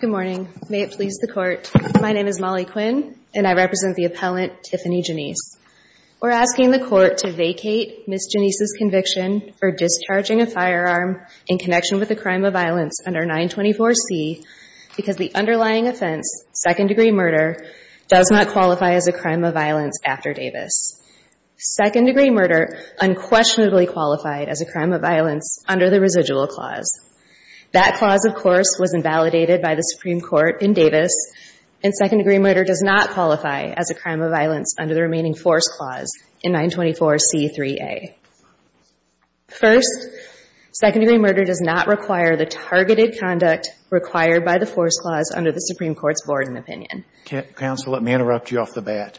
Good morning. May it please the court. My name is Molly Quinn and I represent the appellant Tiffany Janis. We're asking the court to vacate Ms. Janis' conviction for discharging a firearm in connection with a crime of violence under 924 C because the underlying offense, second degree murder, does not qualify as a crime of violence after Davis. Second degree murder unquestionably qualifies as a crime of violence. Second degree murder does not qualify as a crime of violence after Davis. Second degree murder unquestionably qualifies as a crime of violence after Davis. Second degree murder does not qualify as a crime of violence under the residual clause. That clause, of course, was invalidated by the Supreme Court in Davis, and second degree murder does not qualify as a crime of violence under the remaining force clause in 924 C3A. First, second degree murder does not require the targeted conduct required by the force clause under the Supreme Court's board and opinion. Counsel, let me interrupt you off the bat.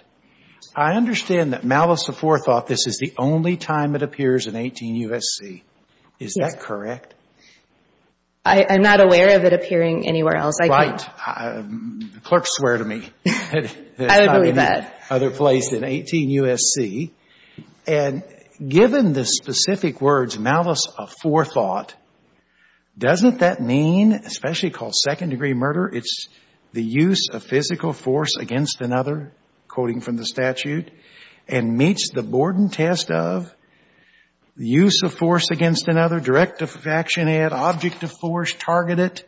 I understand that malice of forethought, this is the only time it appears in 18 U.S.C. Is that correct? I'm not aware of it appearing anywhere else. Right. Clerks swear to me. I would agree with that. Other place than 18 U.S.C. And given the specific words malice of forethought, doesn't that mean, especially called second degree murder, it's the use of physical force against another, quoting from the statute, and meets the Borden test of the use of force against another, direct action, add object of force, target it,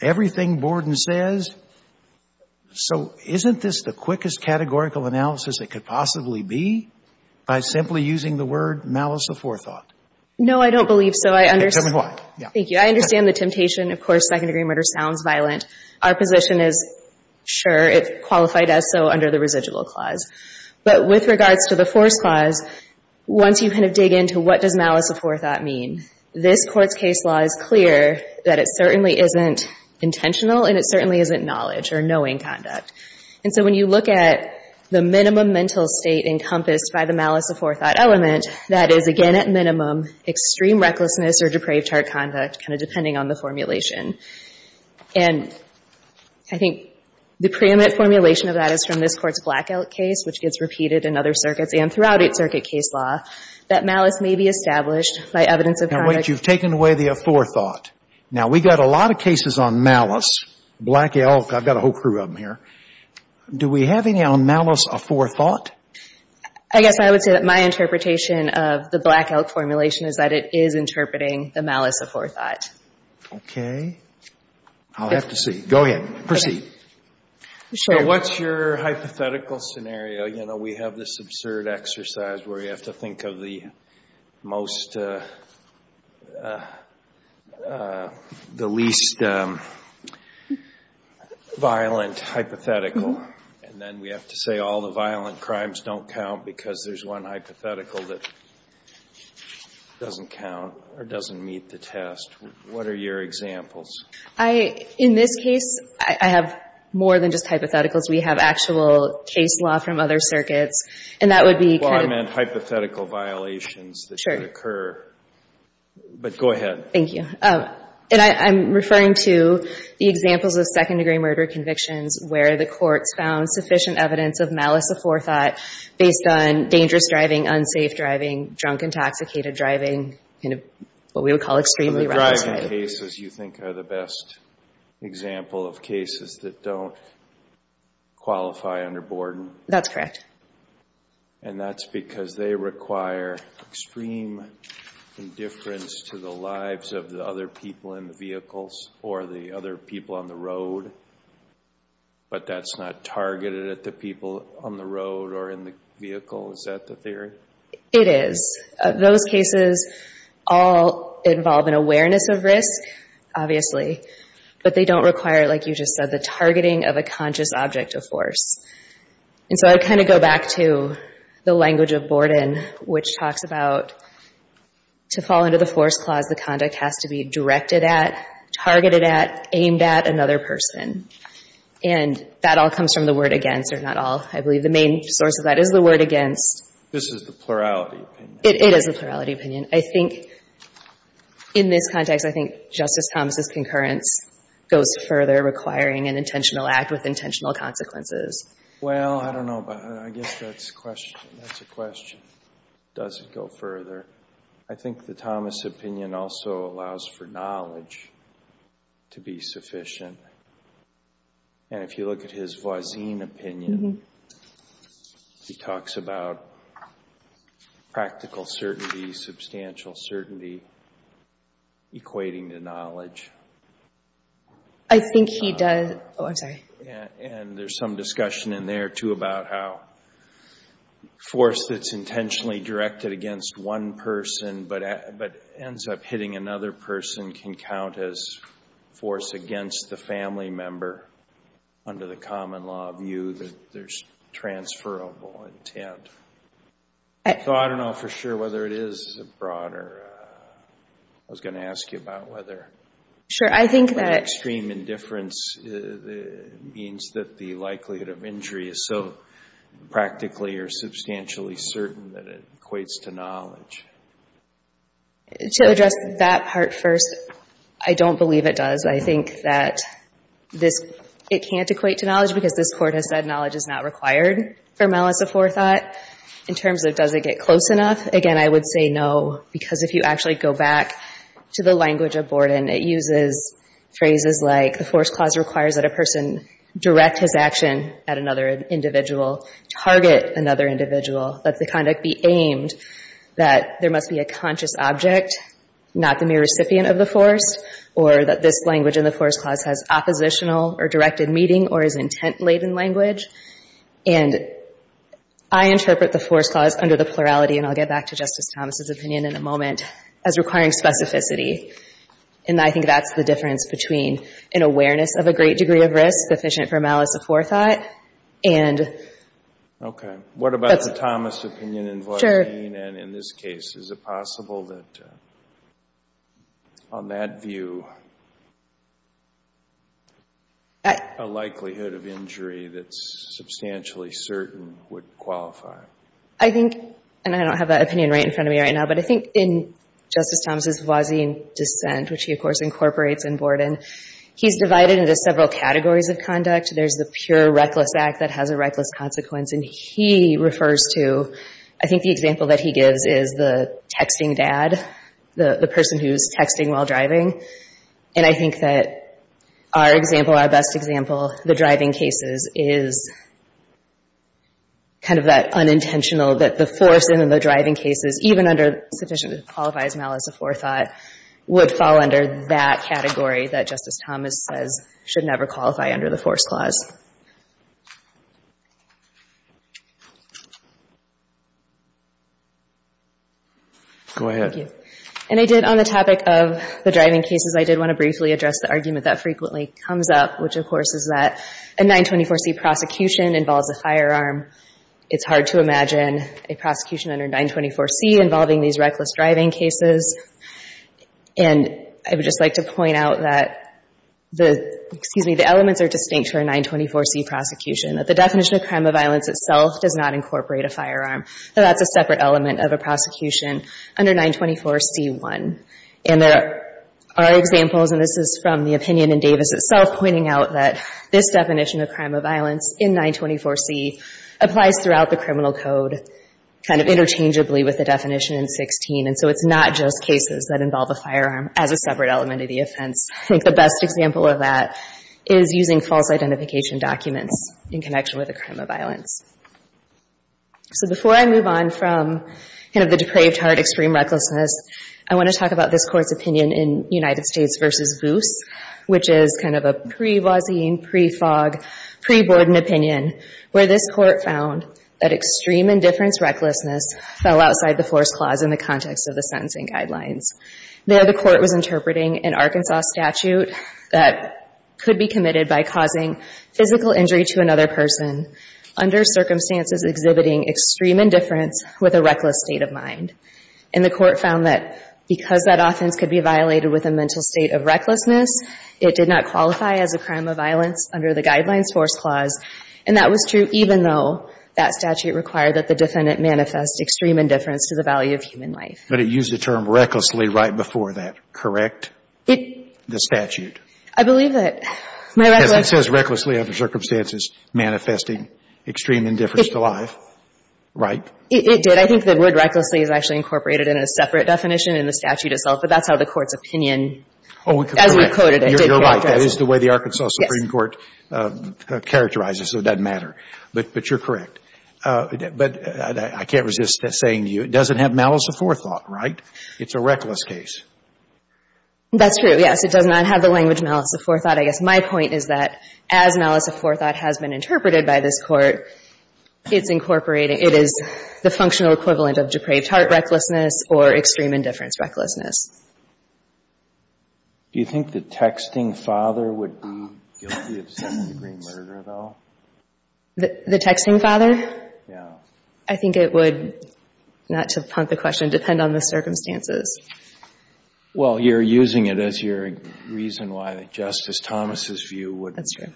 everything Borden says. So isn't this the quickest categorical analysis it could possibly be by simply using the word malice of forethought? No, I don't believe so. I understand. Thank you. I understand the temptation. Of course, second degree murder sounds violent. Our position is, sure, it qualified as so under the residual clause. But with regards to the force clause, once you kind of dig into what does malice of forethought mean, this Court's case law is clear that it certainly isn't intentional and it certainly isn't knowledge or knowing conduct. And so when you look at the minimum mental state encompassed by the malice of forethought element, that is, again, at minimum, extreme recklessness or depraved heart conduct, kind of depending on the formulation. And I think the preeminent formulation of that is from this Court's Blackout case, which gets repeated in other circuits and throughout its circuit case law, that malice may be established by evidence of conduct. Now, wait. You've taken away the forethought. Now, we've got a lot of cases on malice. Black Elk, I've got a whole crew of them here. Do we have any on malice of forethought? I guess I would say that my interpretation of the Black Elk formulation is that it is interpreting the malice of forethought. Okay. I'll have to see. Go ahead. Proceed. So what's your hypothetical scenario? You know, we have this absurd exercise where you have to think of the most, the least violent hypothetical, and then we have to say all the violent crimes don't count because there's one hypothetical that doesn't count or doesn't meet the test. What are your examples? I, in this case, I have more than just hypotheticals. We have actual case law from other circuits, and that would be kind of — Well, I meant hypothetical violations that could occur. Sure. But go ahead. Thank you. And I'm referring to the examples of second-degree murder convictions where the courts found sufficient evidence of malice of forethought based on dangerous driving, unsafe driving, drunk, intoxicated driving, kind of what we would call extremely — Driving cases you think are the best example of cases that don't qualify under Borden? That's correct. And that's because they require extreme indifference to the lives of the other people in the vehicles or the other people on the road, but that's not targeted at the people on the road or in the vehicle? Is that the theory? It is. Those cases all involve an awareness of risk, obviously, but they don't require, like you just said, the targeting of a conscious object of force. And so I'd kind of go back to the language of Borden, which talks about to fall under the force clause, the conduct has to be directed at, targeted at, aimed at another person. And that all comes from the word against, or not all. I believe the main source of that is the word against. This is the plurality opinion. It is the plurality opinion. I think in this context, I think Justice Thomas' concurrence goes further, requiring an intentional act with intentional consequences. Well, I don't know about — I guess that's a question. That's a question. Does it go further? I think the Thomas opinion also allows for knowledge to be sufficient. And if you look at his Voisin opinion, he talks about practical certainty, substantial certainty, equating to knowledge. I think he does. Oh, I'm sorry. And there's some discussion in there, too, about how force that's intentionally directed against one person but ends up hitting another person can count as force against the family member, under the common law view that there's transferable intent. So I don't know for sure whether it is broader. I was going to ask you about whether — Sure, I think that —— extreme indifference means that the likelihood of injury is so practically or substantially certain that it equates to knowledge. To address that part first, I don't believe it does. I think that this — it can't equate to knowledge because this Court has said knowledge is not required for malice of forethought. In terms of does it get close enough, again, I would say no, because if you actually go back to the language of Borden, it uses phrases like the force clause requires that a person direct his action at another individual, target another individual, that the conduct be aimed, that there must be a conscious object, not the mere recipient of the force, or that this language in the force clause has oppositional or directed meeting or is intent-laden language. And I interpret the force clause under the plurality, and I'll get back to Justice Thomas' opinion in a moment, as requiring specificity. And I think that's the difference between an awareness of a great degree of risk, sufficient for malice of forethought, and — Okay. What about the Thomas opinion in Voisin? Sure. And in this case, is it possible that on that view a likelihood of injury that's substantially certain would qualify? I think — and I don't have that opinion right in front of me right now, but I think in Justice Thomas' Voisin dissent, which he, of course, incorporates in Borden, he's divided into several categories of conduct. There's the pure reckless act that has a reckless consequence, and he refers to — I think the example that he gives is the texting dad, the person who's texting while driving. And I think that our example, our best example, the driving cases, is kind of that unintentional, that the force in the driving cases, even under sufficient that qualifies malice of forethought, would fall under that category that Justice Thomas says should never qualify under the force clause. Go ahead. Thank you. And I did, on the topic of the driving cases, I did want to briefly address the argument that frequently comes up, which, of course, is that a 924C prosecution involves a firearm. It's hard to imagine a prosecution under 924C involving these reckless driving cases. And I would just like to point out that the — excuse me, the elements are distinct for a 924C prosecution, that the definition of crime of violence itself does not incorporate a firearm, that that's a separate element of a prosecution under 924C1. And there are examples, and this is from the opinion in Davis itself, pointing out that this definition of crime of violence in 924C applies throughout the criminal code, kind of interchangeably with the definition in 16. And so it's not just cases that involve a firearm as a separate element of the offense. I think the best example of that is using false identification documents in connection with a crime of violence. So before I move on from kind of the depraved heart, extreme recklessness, I want to talk about this Court's opinion in United States v. Goose, which is kind of a pre-Voisin, pre-Fogg, pre-Borden opinion, where this Court found that extreme indifference recklessness fell outside the force clause in the context of the sentencing guidelines. There, the Court was interpreting an Arkansas statute that could be committed by causing physical injury to another person under circumstances exhibiting extreme indifference with a reckless state of mind. And the Court found that because that offense could be violated with a mental state of recklessness, it did not qualify as a crime of violence under the Guidelines Force Clause. And that was true even though that statute required that the defendant manifest extreme indifference to the value of human life. But it used the term recklessly right before that, correct, the statute? I believe that. Because it says recklessly under circumstances manifesting extreme indifference to life, right? It did. I think the word recklessly is actually incorporated in a separate definition in the statute itself, but that's how the Court's opinion, as we quoted it, did characterize it. You're right. That is the way the Arkansas Supreme Court characterizes it, so it doesn't matter. But you're correct. But I can't resist saying to you, it doesn't have malice of forethought, right? It's a reckless case. That's true, yes. It does not have the language malice of forethought. I guess my point is that as malice of forethought has been interpreted by this Court, it's incorporated, it is the functional equivalent of depraved heart recklessness or extreme indifference recklessness. Do you think the texting father would be guilty of second-degree murder, though? The texting father? Yeah. I think it would, not to punt the question, depend on the circumstances. Well, you're using it as your reason why the Justice Thomas' view would. That's true.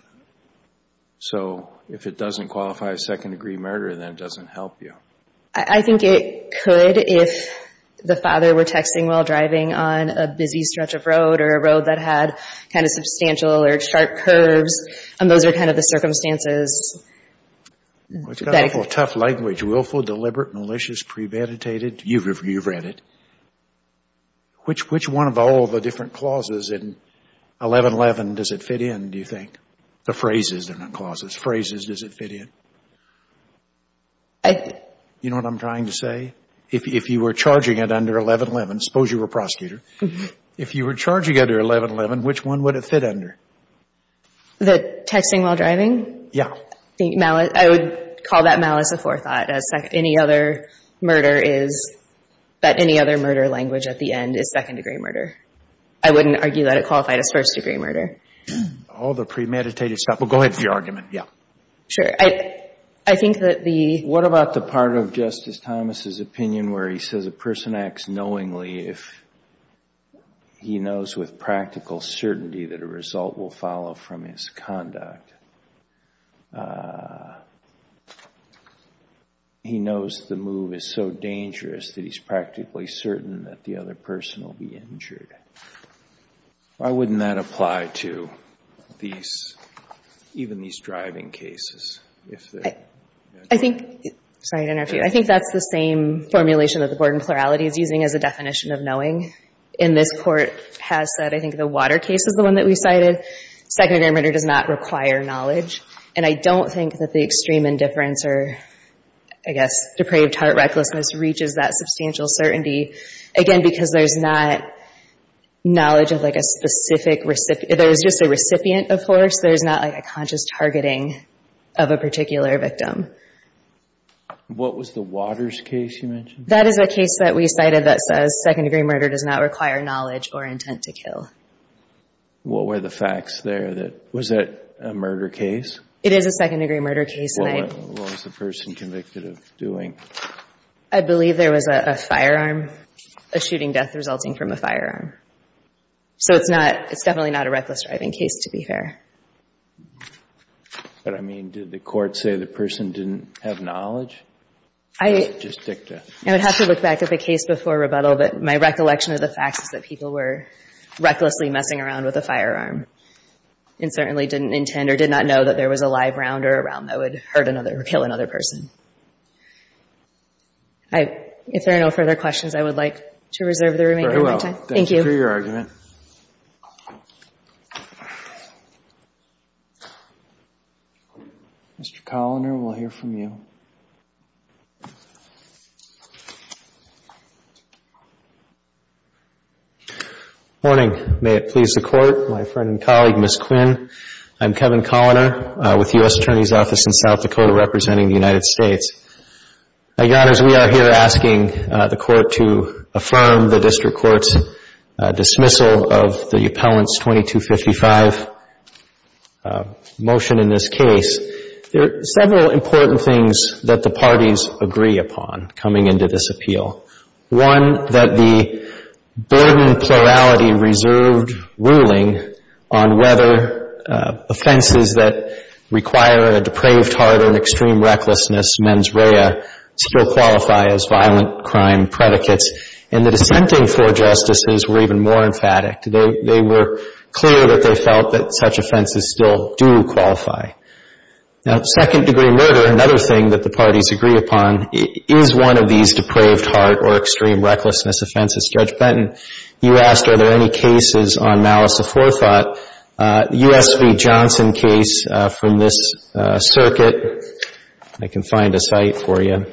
So if it doesn't qualify as second-degree murder, then it doesn't help you. I think it could if the father were texting while driving on a busy stretch of road or a road that had kind of substantial or sharp curves, and those are kind of the circumstances. It's got a tough language, willful, deliberate, malicious, premeditated. You've read it. Which one of all the different clauses in 1111 does it fit in, do you think? The phrases, they're not clauses. Phrases, does it fit in? You know what I'm trying to say? If you were charging it under 1111, suppose you were a prosecutor, if you were charging it under 1111, which one would it fit under? The texting while driving? Yeah. I would call that malice of forethought. Any other murder is that any other murder language at the end is second-degree murder. I wouldn't argue that it qualified as first-degree murder. All the premeditated stuff. Well, go ahead with your argument. Yeah. Sure. I think that the— What about the part of Justice Thomas' opinion where he says a person acts knowingly if he knows with practical certainty that a result will follow from his conduct? He knows the move is so dangerous that he's practically certain that the other person will be injured. Why wouldn't that apply to these, even these driving cases? I think—sorry to interrupt you. I think that's the same formulation that the board in plurality is using as a definition of knowing. And this Court has said, I think, the water case is the one that we cited. Second-degree murder does not require knowledge. And I don't think that the extreme indifference or, I guess, depraved heart recklessness reaches that substantial certainty. Again, because there's not knowledge of, like, a specific—there's just a recipient, of course. There's not, like, a conscious targeting of a particular victim. What was the waters case you mentioned? That is a case that we cited that says second-degree murder does not require knowledge or intent to kill. What were the facts there? Was that a murder case? It is a second-degree murder case. What was the person convicted of doing? I believe there was a firearm, a shooting death resulting from a firearm. So it's not—it's definitely not a reckless driving case, to be fair. But, I mean, did the Court say the person didn't have knowledge? I— Or was it just dicta? I would have to look back at the case before rebuttal. But my recollection of the facts is that people were recklessly messing around with a firearm and certainly didn't intend or did not know that there was a live round or a round that would hurt another or kill another person. I—if there are no further questions, I would like to reserve the remaining time. Very well. Thank you. Thank you for your argument. Mr. Coloner, we'll hear from you. Morning. May it please the Court. My friend and colleague, Ms. Quinn. I'm Kevin Coloner with the U.S. Attorney's Office in South Dakota representing the United States. Your Honors, we are here asking the Court to affirm the district court's dismissal of the appellant's 2255 motion in this case. There are several important things that the parties agree upon coming into this appeal. One, that the burdened plurality reserved ruling on whether offenses that require a depraved heart and extreme recklessness, mens rea, still qualify as violent crime predicates. And the dissenting four Justices were even more emphatic. They were clear that they felt that such offenses still do qualify. Now, second-degree murder, another thing that the parties agree upon, is one of these depraved heart or extreme recklessness offenses. Judge Benton, you asked are there any cases on malice of forethought. The U.S. v. Johnson case from this circuit, I can find a site for you.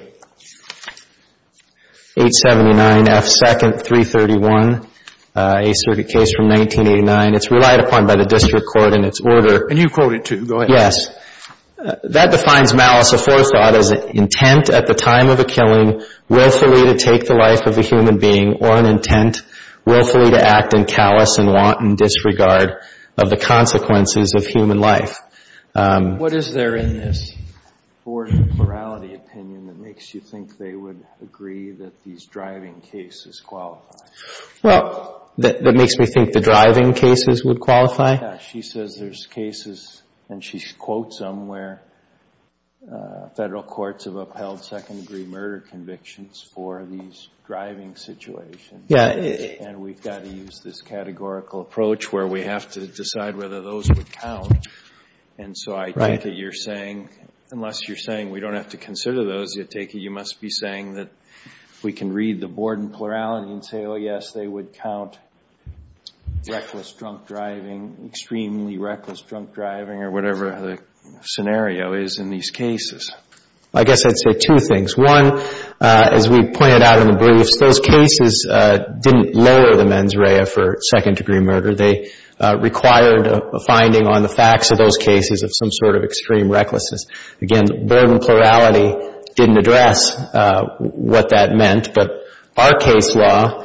879 F. 2nd, 331, a circuit case from 1989. It's relied upon by the district court in its order. And you quote it, too. Go ahead. Yes. That defines malice of forethought as an intent at the time of a killing willfully to take the life of a human being or an intent willfully to act in callous and wanton disregard of the consequences of human life. What is there in this board of plurality opinion that makes you think they would agree that these driving cases qualify? Well, that makes me think the driving cases would qualify? Yes. She says there's cases, and she quotes them, where federal courts have upheld second-degree murder convictions for these driving situations. Yes. And we've got to use this categorical approach where we have to decide whether those would count. And so I take it you're saying, unless you're saying we don't have to consider those, you take it you must be saying that we can read the board in plurality and say, oh, yes, they would count reckless drunk driving, extremely reckless drunk driving, or whatever the scenario is in these cases. I guess I'd say two things. One, as we pointed out in the briefs, those cases didn't lower the mens rea for second-degree murder. They required a finding on the facts of those cases of some sort of extreme recklessness. Again, the board in plurality didn't address what that meant, but our case law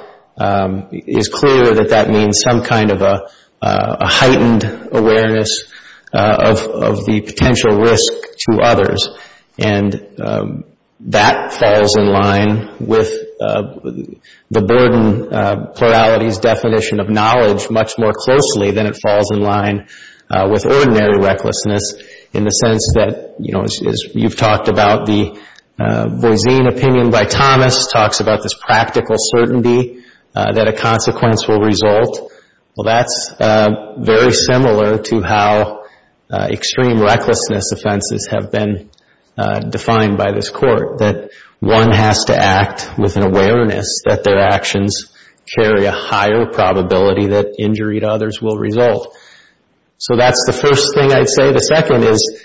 is clear that that means some kind of a heightened awareness of the potential risk to others, and that falls in line with the board in plurality's definition of knowledge much more closely than it falls in line with ordinary recklessness in the sense that, you know, as you've talked about, the Boisine opinion by Thomas talks about this practical certainty that a consequence will result. Well, that's very similar to how extreme recklessness offenses have been defined by this court, that one has to act with an awareness that their actions carry a higher probability that injury to others will result. So that's the first thing I'd say. The second is,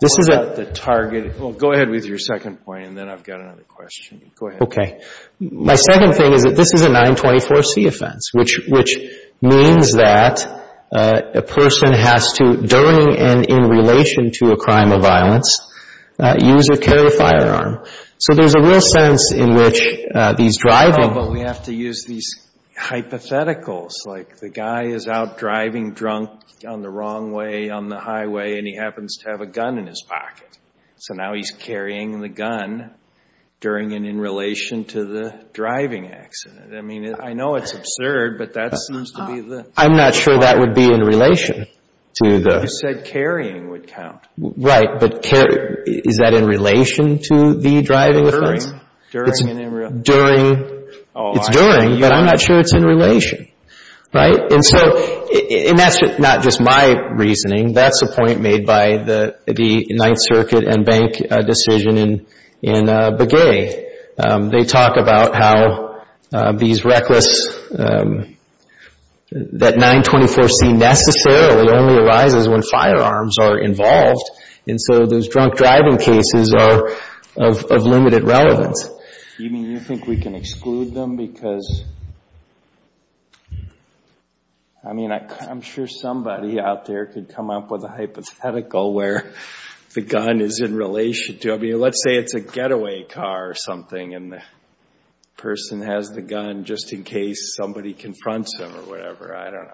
this is a... The target... Well, go ahead with your second point, and then I've got another question. Go ahead. Okay. My second thing is that this is a 924c offense, which means that a person has to, during and in relation to a crime of violence, use or carry a firearm. So there's a real sense in which these driving... Oh, but we have to use these hypotheticals, like the guy is out driving drunk on the wrong way on the highway, and he happens to have a gun in his pocket. So now he's carrying the gun during and in relation to the driving accident. I mean, I know it's absurd, but that seems to be the... I'm not sure that would be in relation to the... You said carrying would count. Right, but is that in relation to the driving offense? During. It's during, but I'm not sure it's in relation. Right? And that's not just my reasoning. That's a point made by the Ninth Circuit and bank decision in Begay. They talk about how these reckless... That 924c necessarily only arises when firearms are involved, and so those drunk driving cases are of limited relevance. You mean you think we can exclude them because... I mean, I'm sure somebody out there could come up with a hypothetical where the gun is in relation to... I mean, let's say it's a getaway car or something, and the person has the gun just in case somebody confronts them or whatever. I don't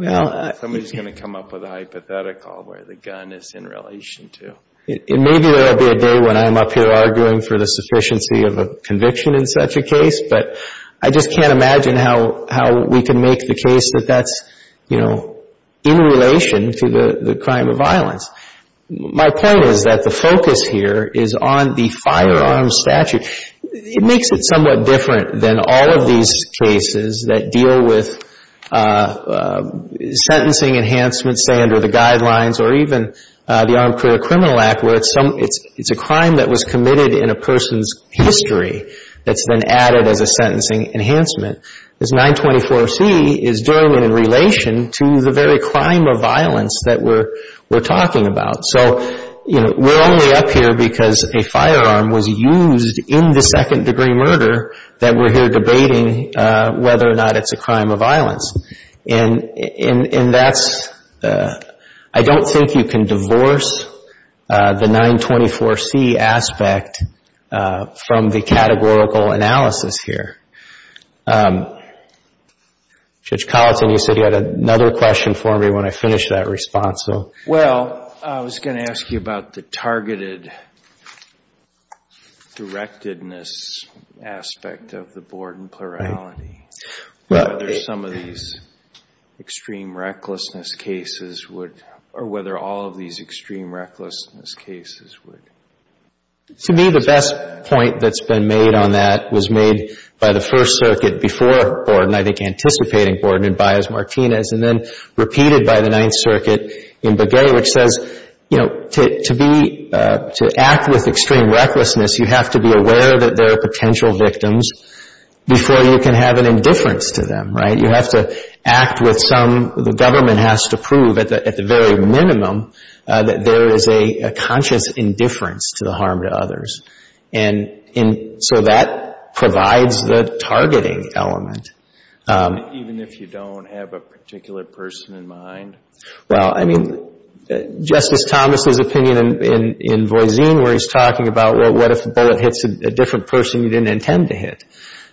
know. Somebody's going to come up with a hypothetical where the gun is in relation to. Maybe there will be a day when I'm up here arguing for the sufficiency of a conviction in such a case, but I just can't imagine how we can make the case that that's in relation to the crime of violence. My point is that the focus here is on the firearms statute. It makes it somewhat different than all of these cases that deal with sentencing enhancements, say under the guidelines or even the Armed Career Criminal Act, where it's a crime that was committed in a person's history that's been added as a sentencing enhancement. This 924c is doing it in relation to the very crime of violence that we're talking about. So, you know, we're only up here because a firearm was used in the second-degree murder that we're here debating whether or not it's a crime of violence. And that's – I don't think you can divorce the 924c aspect from the categorical analysis here. Judge Collinson, you said you had another question for me when I finished that response, so. Well, I was going to ask you about the targeted directedness aspect of the board in plurality. Right. Whether some of these extreme recklessness cases would – or whether all of these extreme recklessness cases would. To me, the best point that's been made on that was made by the First Circuit before Borden, I think anticipating Borden and Baez-Martinez, and then repeated by the Ninth Circuit in Begay, which says, you know, to be – to act with extreme recklessness, you have to be aware that there are potential victims before you can have an indifference to them. Right? You have to act with some – the government has to prove at the very minimum that there is a conscious indifference to the harm to others. And so that provides the targeting element. Even if you don't have a particular person in mind? Well, I mean, Justice Thomas's opinion in Voisin where he's talking about, well, what if a bullet hits a different person you didn't intend to hit?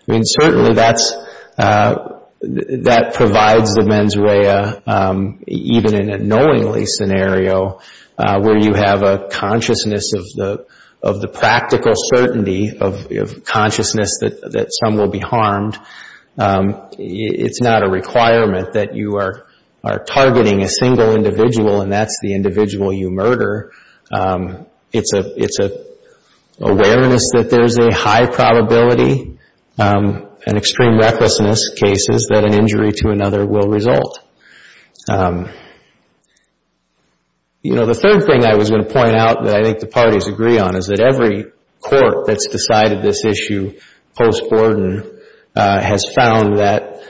I mean, certainly that's – that provides the mens rea even in a knowingly scenario where you have a consciousness of the practical certainty of consciousness that some will be harmed. It's not a requirement that you are targeting a single individual and that's the individual you murder. It's an awareness that there's a high probability in extreme recklessness cases that an injury to another will result. You know, the third thing I was going to point out that I think the parties agree on is that every court that's decided this issue post-Borden has found that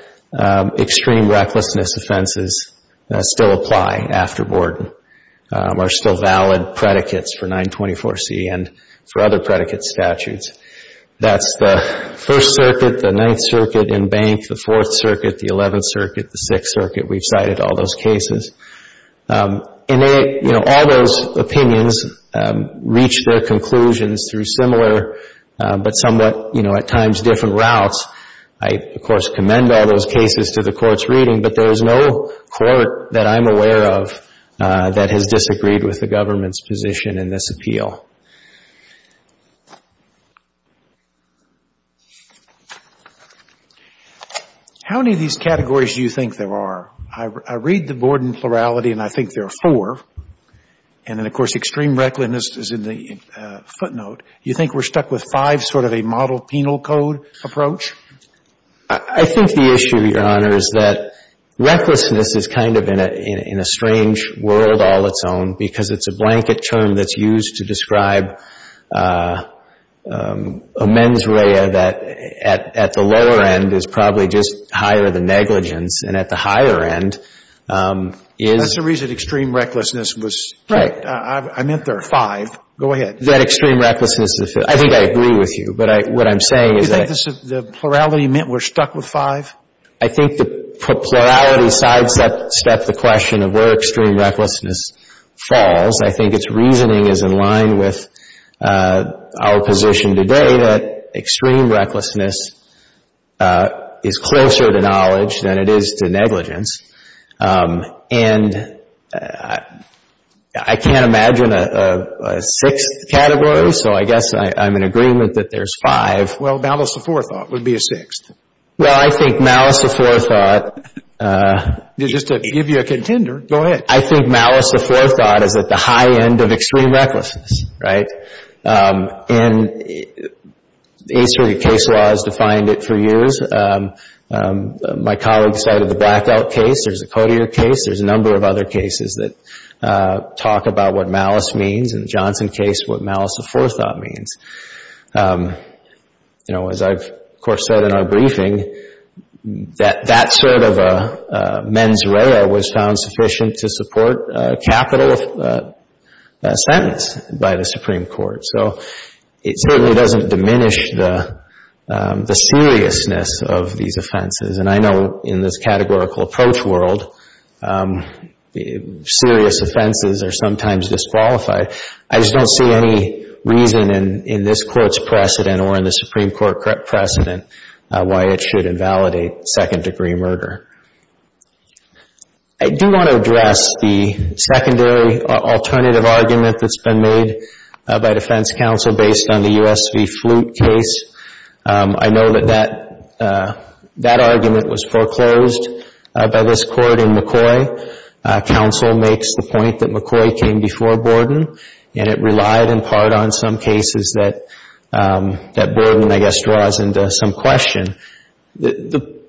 extreme recklessness offenses still apply after Borden, are still valid predicates for 924C and for other predicate statutes. That's the First Circuit, the Ninth Circuit in Bank, the Fourth Circuit, the Eleventh Circuit, the Sixth Circuit. We've cited all those cases. And, you know, all those opinions reach their conclusions through similar but somewhat, you know, at times different routes. I, of course, commend all those cases to the Court's reading, but there is no court that I'm aware of that has disagreed with the government's position in this appeal. How many of these categories do you think there are? I read the Borden plurality and I think there are four. And then, of course, extreme recklessness is in the footnote. You think we're stuck with five, sort of a model penal code approach? I think the issue, Your Honor, is that recklessness is kind of in a strange world all its own because it's a blanket term that's used to describe a mens rea that at the lower end is probably just higher than negligence and at the higher end is... That's the reason extreme recklessness was... Right. I meant there are five. Go ahead. That extreme recklessness is... I think I agree with you, but what I'm saying is that... You think the plurality meant we're stuck with five? I think the plurality sidesteps the question of where extreme recklessness falls. I think its reasoning is in line with our position today that extreme recklessness is closer to knowledge than it is to negligence. And I can't imagine a sixth category, so I guess I'm in agreement that there's five. Well, malice aforethought would be a sixth. Well, I think malice aforethought... Just to give you a contender, go ahead. I think malice aforethought is at the high end of extreme recklessness, right? And the Eastern case laws defined it for years. My colleague cited the Blackout case. There's the Cotier case. There's a number of other cases that talk about what malice means. In the Johnson case, what malice aforethought means. As I've, of course, said in our briefing, that sort of a mens rea was found sufficient to support a capital sentence by the Supreme Court. So it certainly doesn't diminish the seriousness of these offenses. And I know in this categorical approach world, serious offenses are sometimes disqualified. I just don't see any reason in this Court's precedent or in the Supreme Court precedent why it should invalidate second-degree murder. I do want to address the secondary alternative argument that's been made by Defense Counsel based on the U.S. v. Flute case. I know that that argument was foreclosed by this Court in McCoy. Counsel makes the point that McCoy came before Borden, and it relied in part on some cases that Borden, I guess, draws into some question. The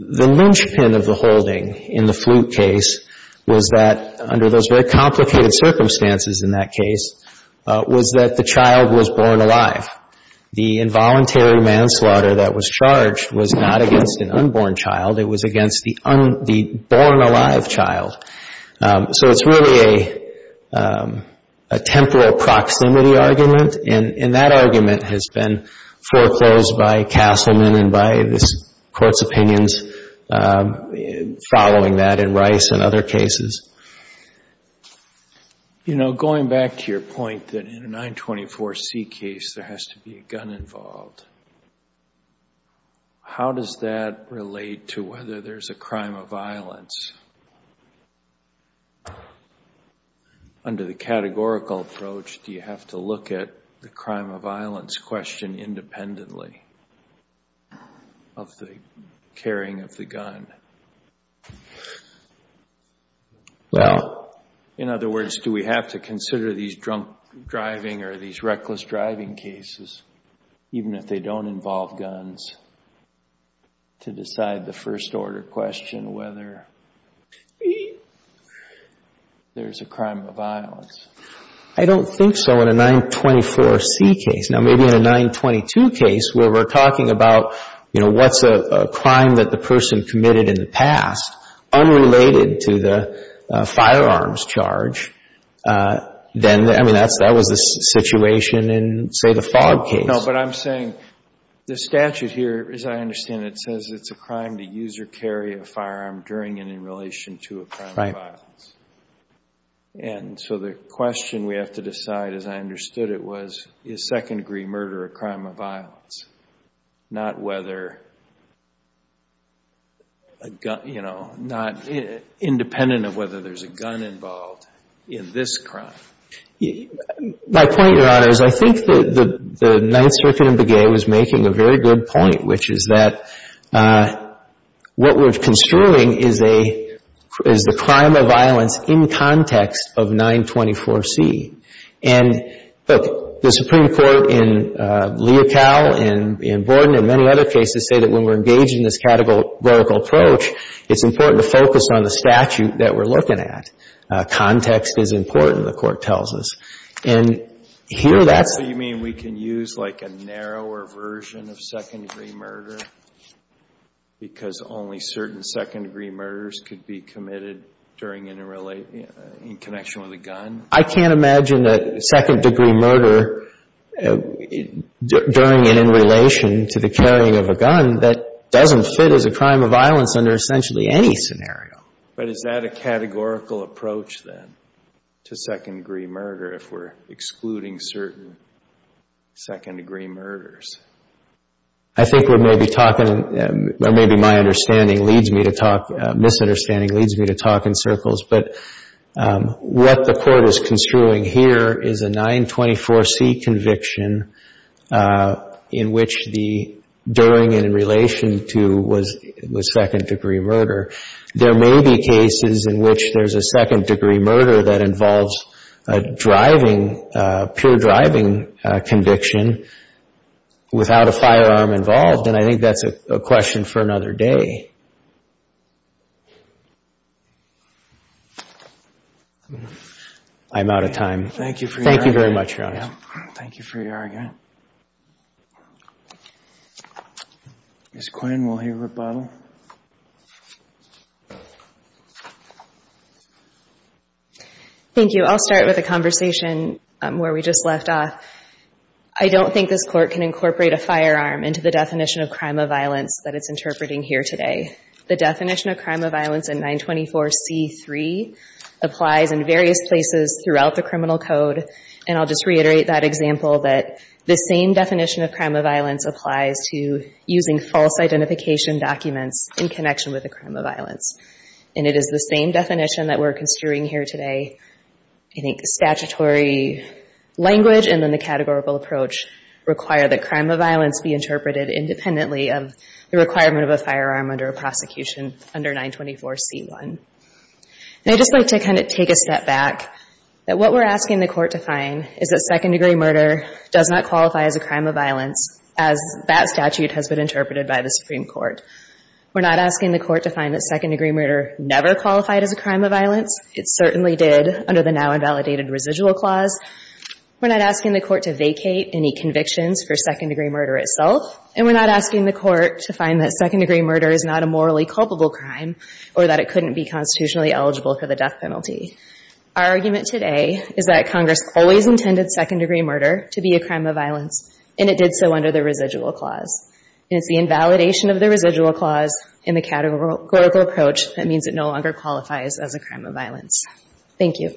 ninchpin of the holding in the Flute case was that, under those very complicated circumstances in that case, was that the child was born alive. The involuntary manslaughter that was charged was not against an unborn child. It was against the born-alive child. So it's really a temporal proximity argument, and that argument has been foreclosed by Castleman and by this Court's opinions following that in Rice and other cases. You know, going back to your point that in a 924C case there has to be a gun involved, how does that relate to whether there's a crime of violence? Under the categorical approach, do you have to look at the crime of violence question independently of the carrying of the gun? Well, in other words, do we have to consider these drunk driving or these reckless driving cases, even if they don't involve guns, to decide the first-order question whether there's a crime of violence? I don't think so in a 924C case. Now, maybe in a 922 case where we're talking about, you know, what's a crime that the person committed in the past unrelated to the firearms charge, then, I mean, that was the situation in, say, the Fogg case. No, but I'm saying the statute here, as I understand it, says it's a crime to use or carry a firearm during and in relation to a crime of violence. And so the question we have to decide, as I understood it, was is second-degree murder a crime of violence, not independent of whether there's a gun involved in this crime? My point, Your Honor, is I think that the Ninth Circuit in Begay was making a very good point, which is that what we're construing is a, is the crime of violence in context of 924C. And, look, the Supreme Court in Leocal and in Borden and many other cases say that when we're engaged in this categorical approach, it's important to focus on the statute that we're looking at. Context is important, the Court tells us. And here, that's the... So you mean we can use, like, a narrower version of second-degree murder because only certain second-degree murders could be committed during and in relation, in connection with a gun? I can't imagine a second-degree murder during and in relation to the carrying of a gun that doesn't fit as a crime of violence under essentially any scenario. But is that a categorical approach, then, to second-degree murder if we're excluding certain second-degree murders? I think we're maybe talking, or maybe my understanding leads me to talk, misunderstanding leads me to talk in circles. But what the Court is construing here is a 924C conviction in which the during and in relation to was second-degree murder. There may be cases in which there's a second-degree murder that involves a driving, pure driving conviction without a firearm involved, and I think that's a question for another day. I'm out of time. Thank you for your argument. Thank you very much, Your Honor. Thank you for your argument. Ms. Quinn, will you rebuttal? Thank you. I'll start with a conversation where we just left off. I don't think this Court can incorporate a firearm into the definition of crime of violence that it's interpreting here today. The definition of crime of violence in 924C3 applies in various places throughout the criminal code, and I'll just reiterate that example, that the same definition of crime of violence applies to using false identification documents in connection with a crime of violence. And it is the same definition that we're construing here today. I think statutory language and then the categorical approach require that crime of violence be interpreted independently of the requirement of a firearm under a prosecution under 924C1. And I'd just like to kind of take a step back, that what we're asking the Court to find is that second-degree murder does not qualify as a crime of violence, as that statute has been interpreted by the Supreme Court. We're not asking the Court to find that second-degree murder never qualified as a crime of violence. It certainly did under the now-invalidated residual clause. We're not asking the Court to vacate any convictions for second-degree murder itself, and we're not asking the Court to find that second-degree murder is not a morally culpable crime or that it couldn't be constitutionally eligible for the death penalty. Our argument today is that Congress always intended second-degree murder to be a crime of violence, and it did so under the residual clause. And it's the invalidation of the residual clause in the categorical approach that means it no longer qualifies as a crime of violence. Thank you.